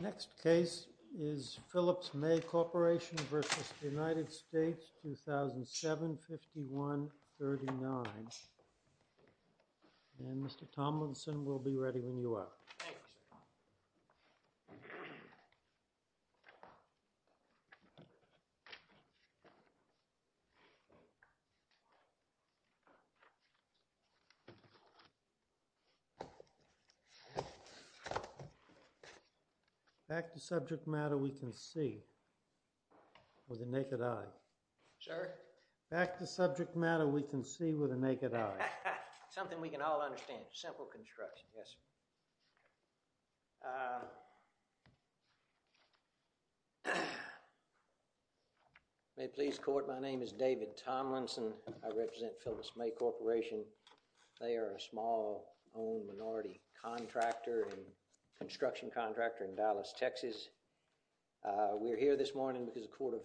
2007, 5139. And Mr. Tomlinson, we'll be ready when you are. Thank you, sir. Back to subject matter we can see with the naked eye. Sir? Back to subject matter we can see with the naked eye. Something we can all understand, simple construction. May it please the court, my name is David Tomlinson. I represent Phyllis May Corporation. They are a small owned minority contractor and construction contractor in Dallas, Texas. We're here this morning because the Court of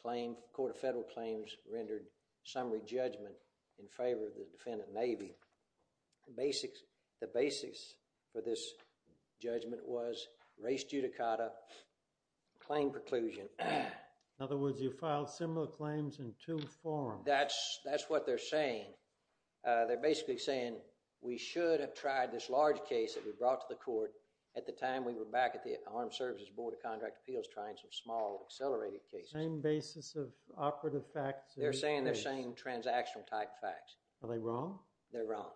Claims, the Court of Federal Claims rendered a summary judgment in favor of the defendant, Navy. The basics for this judgment was race judicata, claim preclusion. In other words, you filed similar claims in two forms. That's what they're saying. They're basically saying we should have tried this large case that we brought to the court at the time we were back at the Armed Services Board of Contract Appeals trying some small accelerated cases. Same basis of operative facts. They're saying they're saying transactional type facts. Are they wrong? They're wrong.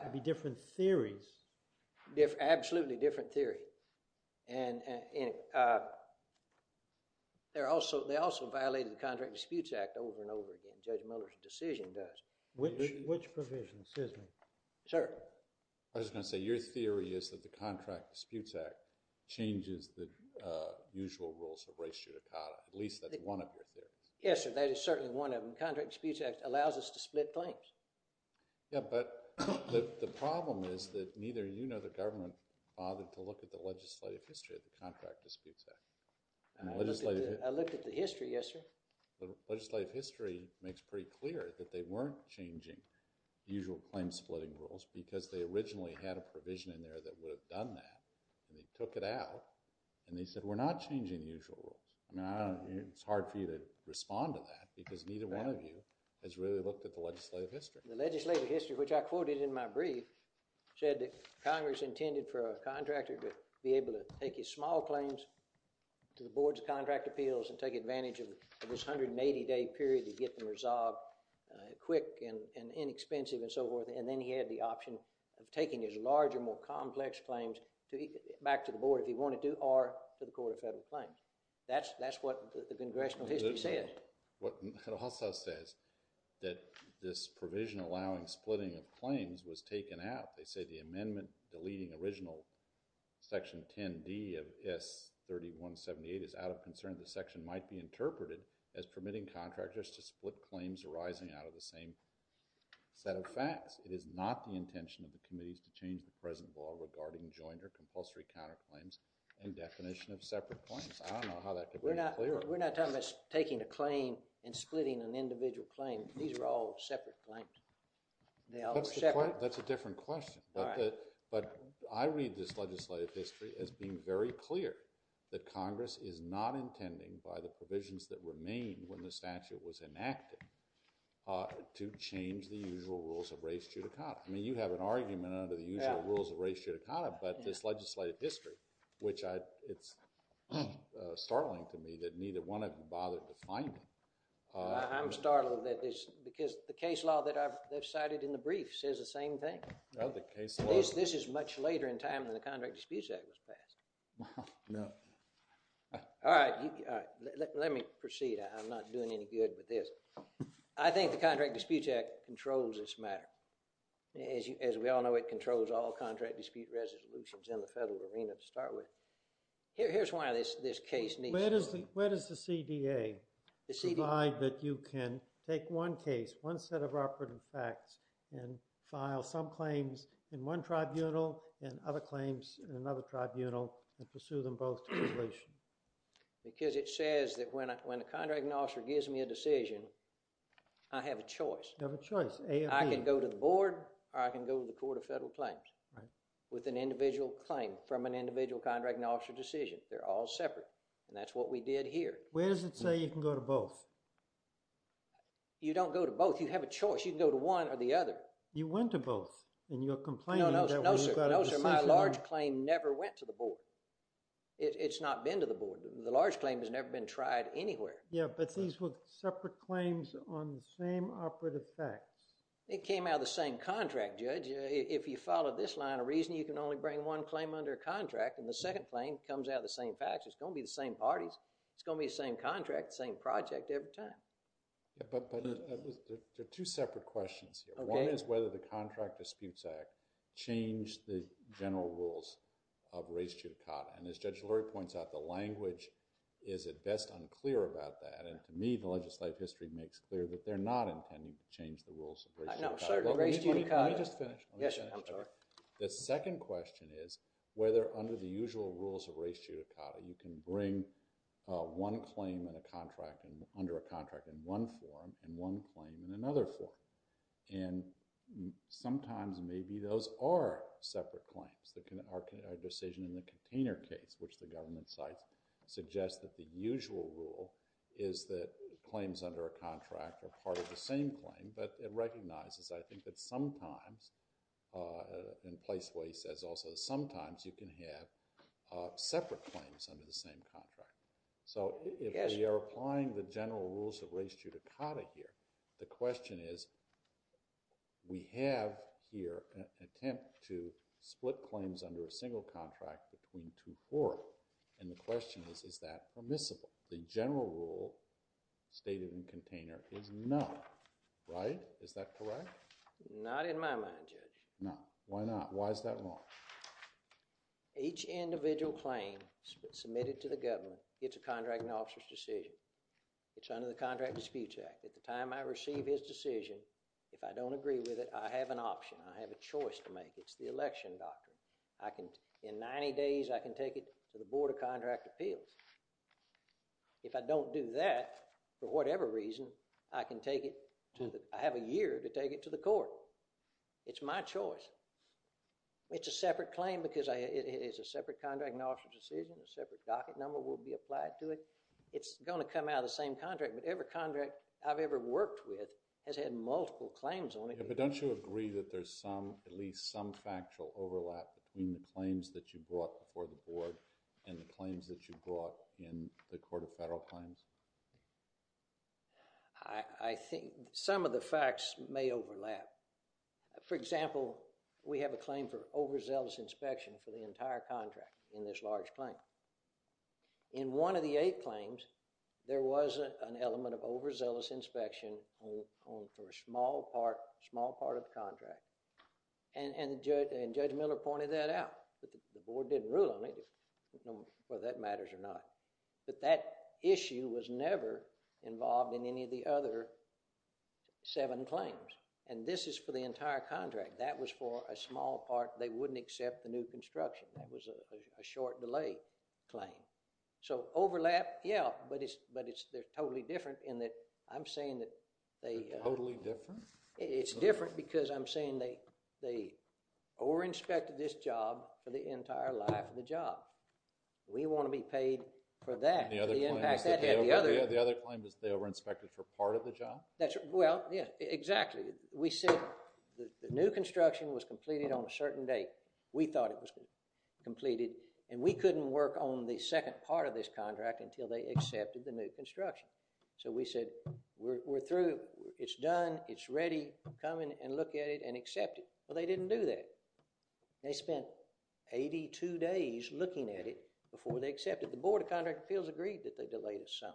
It'd be different theories. Absolutely different theory. And they also violated the Contract Disputes Act over and over again, Judge Mueller's decision does. Which provision, excuse me? Sir? I was going to say your theory is that the Contract Disputes Act changes the usual rules of race judicata, at least that's one of your theories. Yes, sir. That is certainly one of them. The Contract Disputes Act allows us to split claims. Yeah, but the problem is that neither you nor the government bothered to look at the legislative history of the Contract Disputes Act. I looked at the history, yes, sir. Legislative history makes pretty clear that they weren't changing the usual claim-splitting rules because they originally had a provision in there that would have done that, and they took it out, and they said we're not changing the usual rules. I mean, it's hard for you to respond to that because neither one of you has really looked at the legislative history. The legislative history, which I quoted in my brief, said that Congress intended for a contractor to be able to take his small claims to the Boards of Contract Appeals and take advantage of this 180-day period to get them resolved quick and inexpensive and so forth, and then he had the option of taking his larger, more complex claims back to the Board if he wanted to or to the Court of Federal That's what the congressional history said. What it also says that this provision allowing splitting of claims was taken out. They say the amendment deleting original Section 10D of S. 3178 is out of concern the section might be interpreted as permitting contractors to split claims arising out of the same set of facts. It is not the intention of the committees to change the present law regarding joint or compulsory counterclaims and definition of separate claims. I don't know how that could be clearer. We're not talking about taking a claim and splitting an individual claim. These are all separate claims. That's a different question, but I read this legislative history as being very clear that Congress is not intending, by the provisions that remain when the statute was enacted, to change the usual rules of res judicata. I mean, you have an argument under the usual rules of res judicata, but this legislative history, which it's startling to me that neither one of them bothered to find it. I'm startled at this because the case law that I've cited in the brief says the same thing. This is much later in time than the Contract Disputes Act was passed. Let me proceed. I'm not doing any good with this. I think the Contract Disputes Act controls this matter. As we all know, it controls all contract dispute resolutions in the federal arena to start with. Here's why this case needs to be— Where does the CDA provide that you can take one case, one set of operative facts, and file some claims in one tribunal and other claims in another tribunal and pursue them both to completion? Because it says that when a contracting officer gives me a decision, I have a choice. You have a choice, A or B. I can go to the board or I can go to the board with individual claims. With an individual claim from an individual contracting officer decision. They're all separate, and that's what we did here. Where does it say you can go to both? You don't go to both. You have a choice. You can go to one or the other. You went to both, and you're complaining— No, no, no, sir. No, sir. My large claim never went to the board. It's not been to the board. The large claim has never been tried anywhere. Yeah, but these were separate claims on the same operative facts. It came out of the same contract, Judge. If you follow this line of reasoning, you can only bring one claim under a contract, and the second claim comes out of the same facts. It's going to be the same parties. It's going to be the same contract, the same project every time. Yeah, but there are two separate questions here. One is whether the Contract Disputes Act changed the general rules of res judicata, and as Judge Lurie points out, the language is at best unclear about that, and to me, the legislative history makes clear that they're not intending to change the rules of res judicata. No, sir. Res judicata— Let me just finish. Yes, I'm sorry. The second question is whether under the usual rules of res judicata, you can bring one claim under a contract in one form and one claim in another form, and sometimes maybe those are separate claims. Our decision in the container case, which the government cites, suggests that the usual rule is that claims under a I think that sometimes—and Placeway says also that sometimes you can have separate claims under the same contract. So if we are applying the general rules of res judicata here, the question is, we have here an attempt to split claims under a single contract between two fora, and the question is, is that permissible? The general rule stated in the container is No. Right? Is that correct? Not in my mind, Judge. No. Why not? Why is that wrong? Each individual claim submitted to the government, it's a contracting officer's decision. It's under the Contract Disputes Act. At the time I receive his decision, if I don't agree with it, I have an option. I have a choice to make. It's the election doctrine. I can—in 90 days, I can take it to the Board of Contract Appeals. If I don't do that, for whatever reason, I can take it to the—I have a year to take it to the court. It's my choice. It's a separate claim because it's a separate contracting officer's decision. A separate docket number will be applied to it. It's going to come out of the same contract, but every contract I've ever worked with has had multiple claims on it. Yeah, but don't you agree that there's some—at least some factual overlap between the claims that you brought before the board and the claims that you brought in the Board of Federal Claims? I think some of the facts may overlap. For example, we have a claim for overzealous inspection for the entire contract in this large claim. In one of the eight claims, there was an element of overzealous inspection for a small part—small part of the contract. And Judge Miller pointed that out. But the board didn't rule on it, whether that matters or not. But that issue was never involved in any of the other seven claims. And this is for the entire contract. That was for a small part. They wouldn't accept the new construction. That was a short delay claim. So overlap, yeah, but it's—they're totally different in that I'm saying that— They're totally different? It's different because I'm saying they overinspected this job for the entire life of the job. We want to be paid for that. The other claim is that they overinspected for part of the job? Well, yeah, exactly. We said the new construction was completed on a certain date. We thought it was completed. And we couldn't work on the second part of this contract until they accepted the new construction. So we said, we're through. It's done. It's ready. Come and look at it and accept it. Well, they didn't do that. They spent 82 days looking at it before they accepted it. The Board of Contract Appeals agreed that they delayed us some.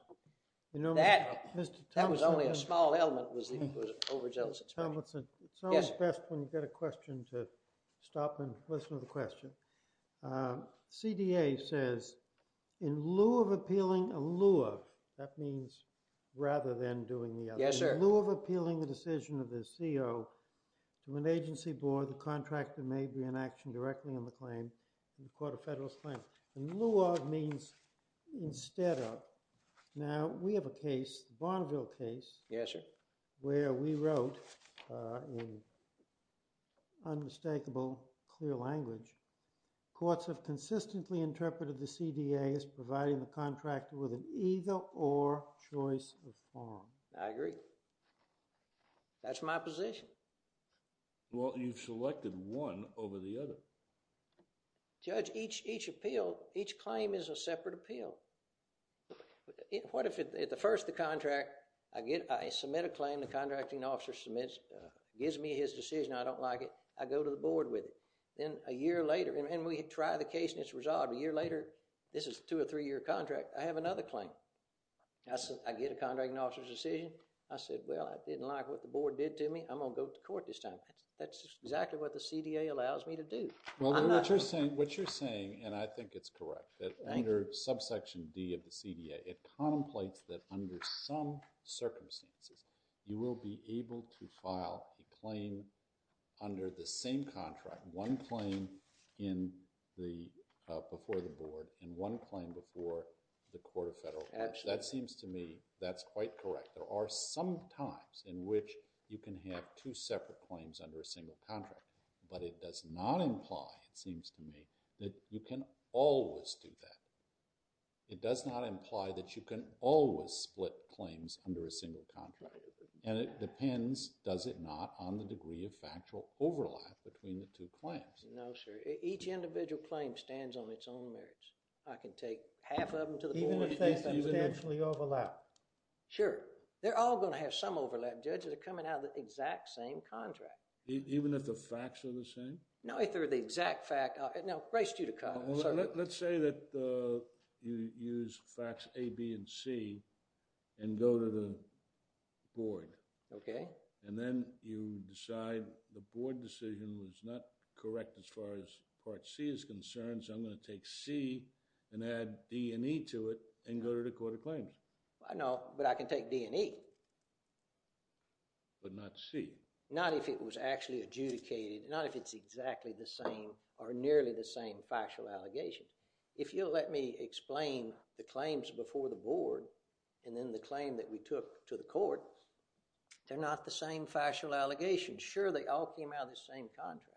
That was only a small element. It was overzealous. Tomlinson, it's always best when you've got a question to stop and listen to the question. CDA says, in lieu of appealing a lieu of— that means rather than doing the other— Yes, sir. In lieu of appealing the decision of the CEO to an agency board, the contractor may be in action directly on the claim in the Court of Federalist Claims. In lieu of means instead of. Now, we have a case, the Bonneville case, Yes, sir. where we wrote, in unmistakable clear language, courts have consistently interpreted the CDA as providing the contractor with an either-or choice of form. I agree. That's my position. Well, you've selected one over the other. Judge, each appeal, each claim is a separate appeal. What if at first the contract, I submit a claim, the contracting officer submits, gives me his decision, I don't like it, I go to the board with it. Then a year later, and we try the case and it's resolved, a year later, this is a two- or three-year contract, I have another claim. I get a contracting officer's decision, I said, well, I didn't like what the board did to me, I'm going to go to court this time. That's exactly what the CDA allows me to do. Well, what you're saying, and I think it's correct, that under subsection D of the CDA, it contemplates that under some circumstances, you will be able to file a claim under the same contract, one claim before the board and one claim before the Court of Federal Claims. That seems to me, that's quite correct. There are some times in which you can have two separate claims under a single contract. But it does not imply, it seems to me, that you can always do that. It does not imply that you can always split claims under a single contract. And it depends, does it not, on the degree of factual overlap between the two claims. No, sir. Each individual claim stands on its own merits. I can take half of them to the board. Even if they substantially overlap? Sure. They're all going to have some overlap. Judges are coming out of the exact same contract. Even if the facts are the same? No, if they're the exact fact. Now, grace you to comment, sir. Let's say that you use facts A, B, and C and go to the board. Okay. And then you decide the board decision was not correct as far as part C is concerned, so I'm going to take C and add D and E to it and go to the court of claims. No, but I can take D and E. But not C. Not if it was actually adjudicated. Not if it's exactly the same or nearly the same factual allegations. If you'll let me explain the claims before the board and then the claim that we took to the court, they're not the same factual allegations. Sure, they all came out of the same contract.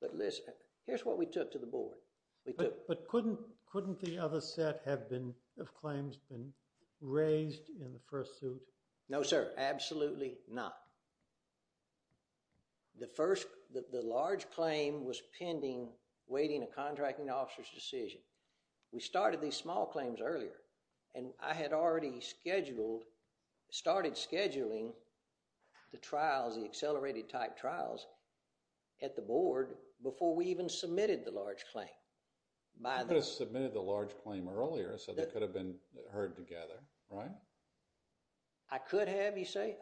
But listen, here's what we took to the board. We took... But couldn't the other set have claims been raised in the first suit? No, sir. Absolutely not. The first, the large claim was pending, waiting a contracting officer's decision. We started these small claims earlier and I had already scheduled, started scheduling the trials, the accelerated type trials at the board before we even submitted the large claim. You could have submitted the large claim earlier so they could have been heard together, right? I could have, you say?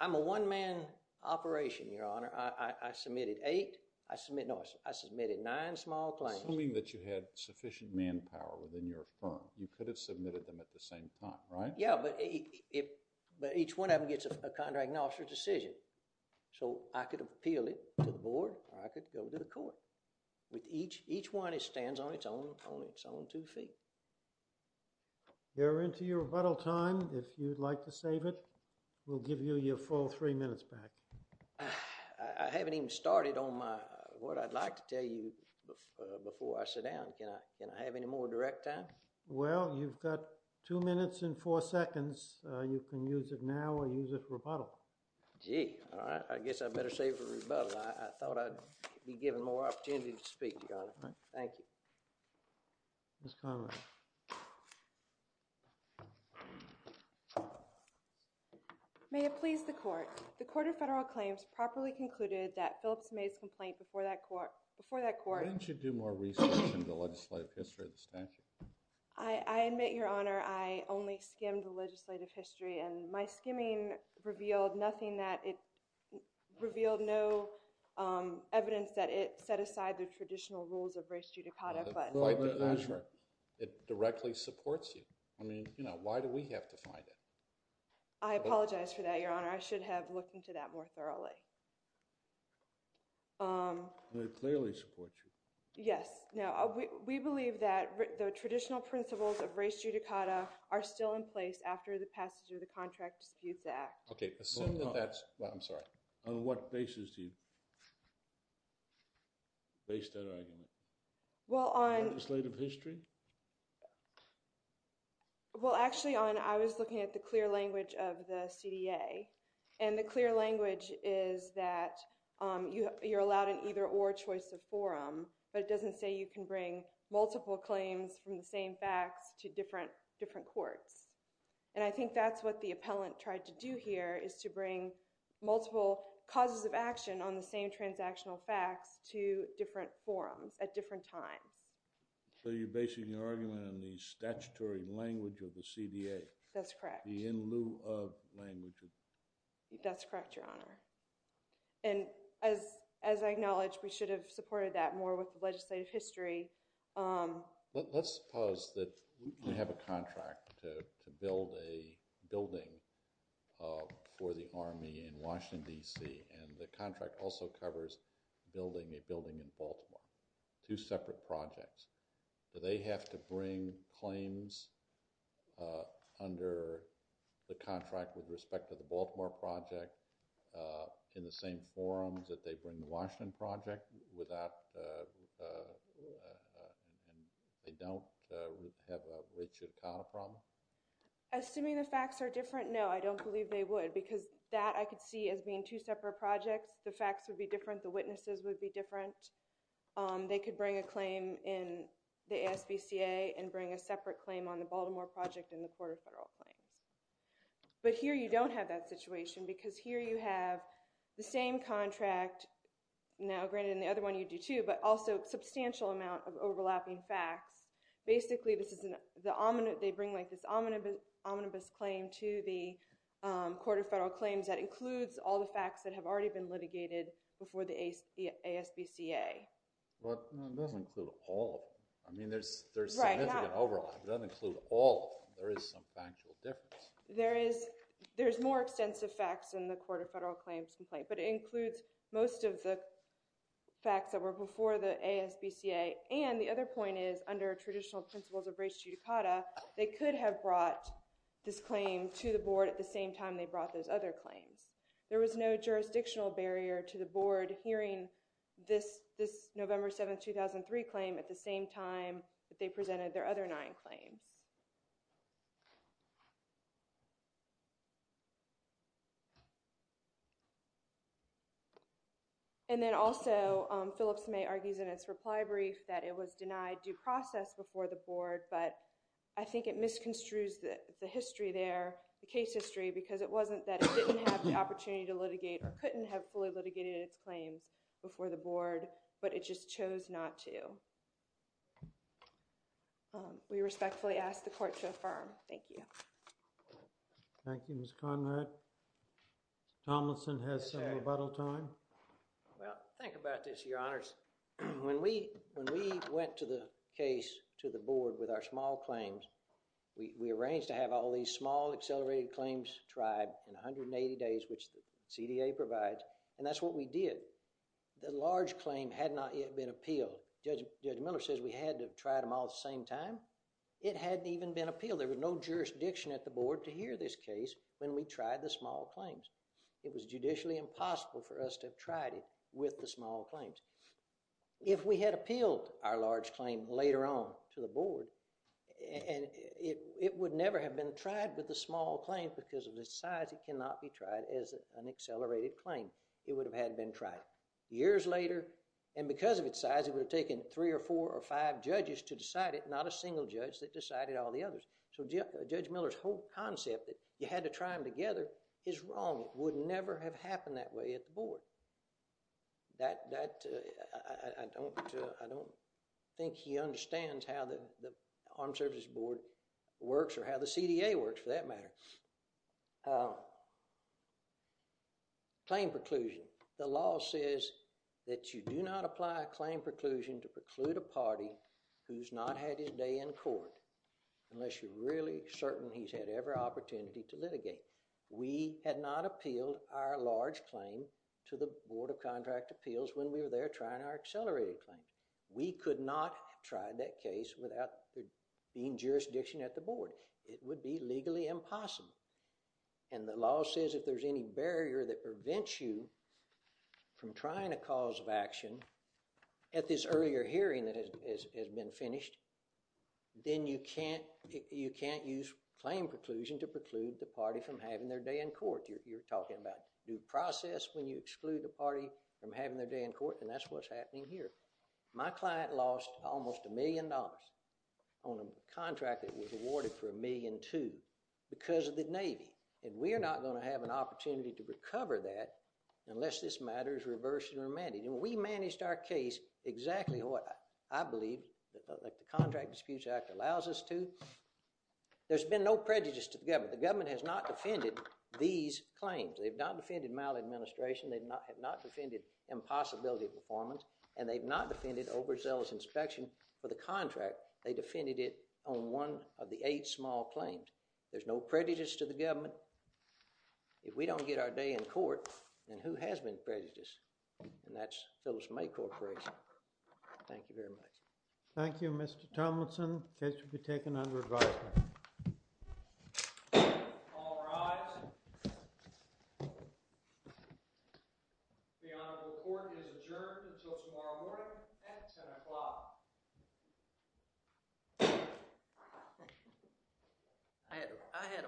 I'm a one-man operation, your honor. I submitted eight. No, I submitted nine small claims. Assuming that you had sufficient manpower within your firm, you could have submitted them at the same time, right? Yeah, but each one of them gets a contracting officer's decision. So I could have appealed it to the board or I could go to the court. Each one stands on its own two feet. You're into your rebuttal time. If you'd like to save it, we'll give you your full three minutes back. I haven't even started on my, what I'd like to tell you before I sit down. Can I have any more direct time? Well, you've got two minutes and four seconds. You can use it now or use it for rebuttal. Gee, all right. I guess I better save it for rebuttal. I thought I'd be given more opportunity to speak, your honor. Thank you. Ms. Conrad. May it please the court. The Court of Federal Claims properly concluded that Phillips made his complaint before that court Why didn't you do more research into the legislative history of the statute? I admit, your honor, I only skimmed the legislative history and my skimming revealed nothing that it revealed no evidence that it set aside the traditional rules of res judicata. It directly supports you. I mean, you know, why do we have to find it? I apologize for that, your honor. I should have looked into that more thoroughly. It clearly supports you. Yes. We believe that the traditional principles of res judicata are still in place after the passage of the Contract Disputes Act. I'm sorry. On what basis do you base that argument? Well, on... Legislative history? Well, actually, on I was looking at the clear language of the CDA, and the clear language is that you're allowed an either or choice of forum, but it doesn't say you can bring multiple claims from the same facts to different courts. And I think that's what the appellant tried to do here, is to bring multiple causes of action on the same transactional facts to different forums at different times. So you're basing your argument on the statutory language of the CDA? That's correct. In lieu of language? That's correct, your honor. And as I acknowledge, we should have supported that more with the legislative history. Let's suppose that we have a contract to build a building for the Army in Washington, D.C., and the contract also covers building a building in Baltimore. Two separate projects. Do they have to bring claims under the contract with respect to the Baltimore project in the same forums that they bring the Washington project without and they don't have a Richard O'Connor problem? Assuming the facts are different, no. I don't believe they would because that I could see as being two separate projects. The facts would be different. The witnesses would be different. They could bring a claim in the ASVCA and bring a separate claim on the Baltimore project in the Court of Federal Claims. But here you don't have that situation because here you have the same contract now granted in the other one you do too but also substantial amount of overlapping facts. Basically they bring like this omnibus claim to the Court of Federal Claims that includes all the facts that have already been litigated before the ASVCA. It doesn't include all of them. I mean there's significant overlap. It doesn't include all of them. There is some factual difference. There is more extensive facts in the Court of Federal Claims but it includes most of the facts that were before the ASVCA and the other point is under traditional principles of race judicata they could have brought this claim to the Board at the same time they brought those other claims. There was no jurisdictional barrier to the Board hearing this November 7, 2003 claim at the same time that they presented their other nine claims. And then also Phillips May argues in his reply brief that it was denied due process before the Board but I think it misconstrues the history there, the case history because it wasn't that it didn't have the opportunity to litigate or couldn't have fully litigated its claims before the Board but it just chose not to. We respectfully ask the Court to affirm. Thank you. Thank you Ms. Conrad. Tomlinson has some rebuttal time. Well, think about this, Your Honors. When we went to the case to the Board with our small claims, we arranged to have all these small accelerated claims tried in 180 days which the CDA provides and that's what we did. The large claim had not yet been appealed. Judge Miller says we had to try them all at the same time. It hadn't even been appealed. There was no jurisdiction at the Board to hear this case when we tried the small claims. It was judicially impossible for us to have tried it with the small claims. If we had appealed our large claim later on to the Board and it would never have been tried with the small claim because of the size it cannot be tried as an accelerated claim. It would have had been tried. Years later and because of its size it would have taken three or four or five judges to decide it not a single judge that decided all the others. So Judge Miller's whole concept that you had to try them together is wrong. It would never have happened that way at the Board. That, I don't think he understands how the Armed Services Board works or how the CDA works for that matter. Claim preclusion. The law says that you do not apply a claim preclusion to preclude a party who's not had his day in court. Unless you're really certain he's had every opportunity to litigate. We had not appealed our large claim to the Board of Contract Appeals when we were there trying our accelerated claim. We could not have tried that case without being jurisdiction at the Board. It would be legally impossible. And the law says if there's any barrier that prevents you from trying a cause of action at this earlier hearing that has been finished then you can't use claim preclusion to preclude the party from having their day in court. You're talking about due process when you exclude the party from having their day in court and that's what's happening here. My client lost almost a million dollars on a contract that was awarded for a million two because of the Navy. And we're not going to have an opportunity to recover that unless this matter is reversed and remanded. And we managed our case exactly what I believe that the Contract Disputes Act allows us to. There's been no prejudice to the government. The government has not defended these claims. They've not defended maladministration. They've not defended impossibility performance and they've not defended overzealous inspection for the contract. They defended it on one of the eight small claims. There's no prejudice to the government. If we don't get our day in court then who has been prejudiced? And that's Phyllis May corporation. Thank you very much. Thank you Mr. Tomlinson. Case will be taken under advisement. All rise. The Honorable Court is adjourned until tomorrow morning at ten o'clock. I had a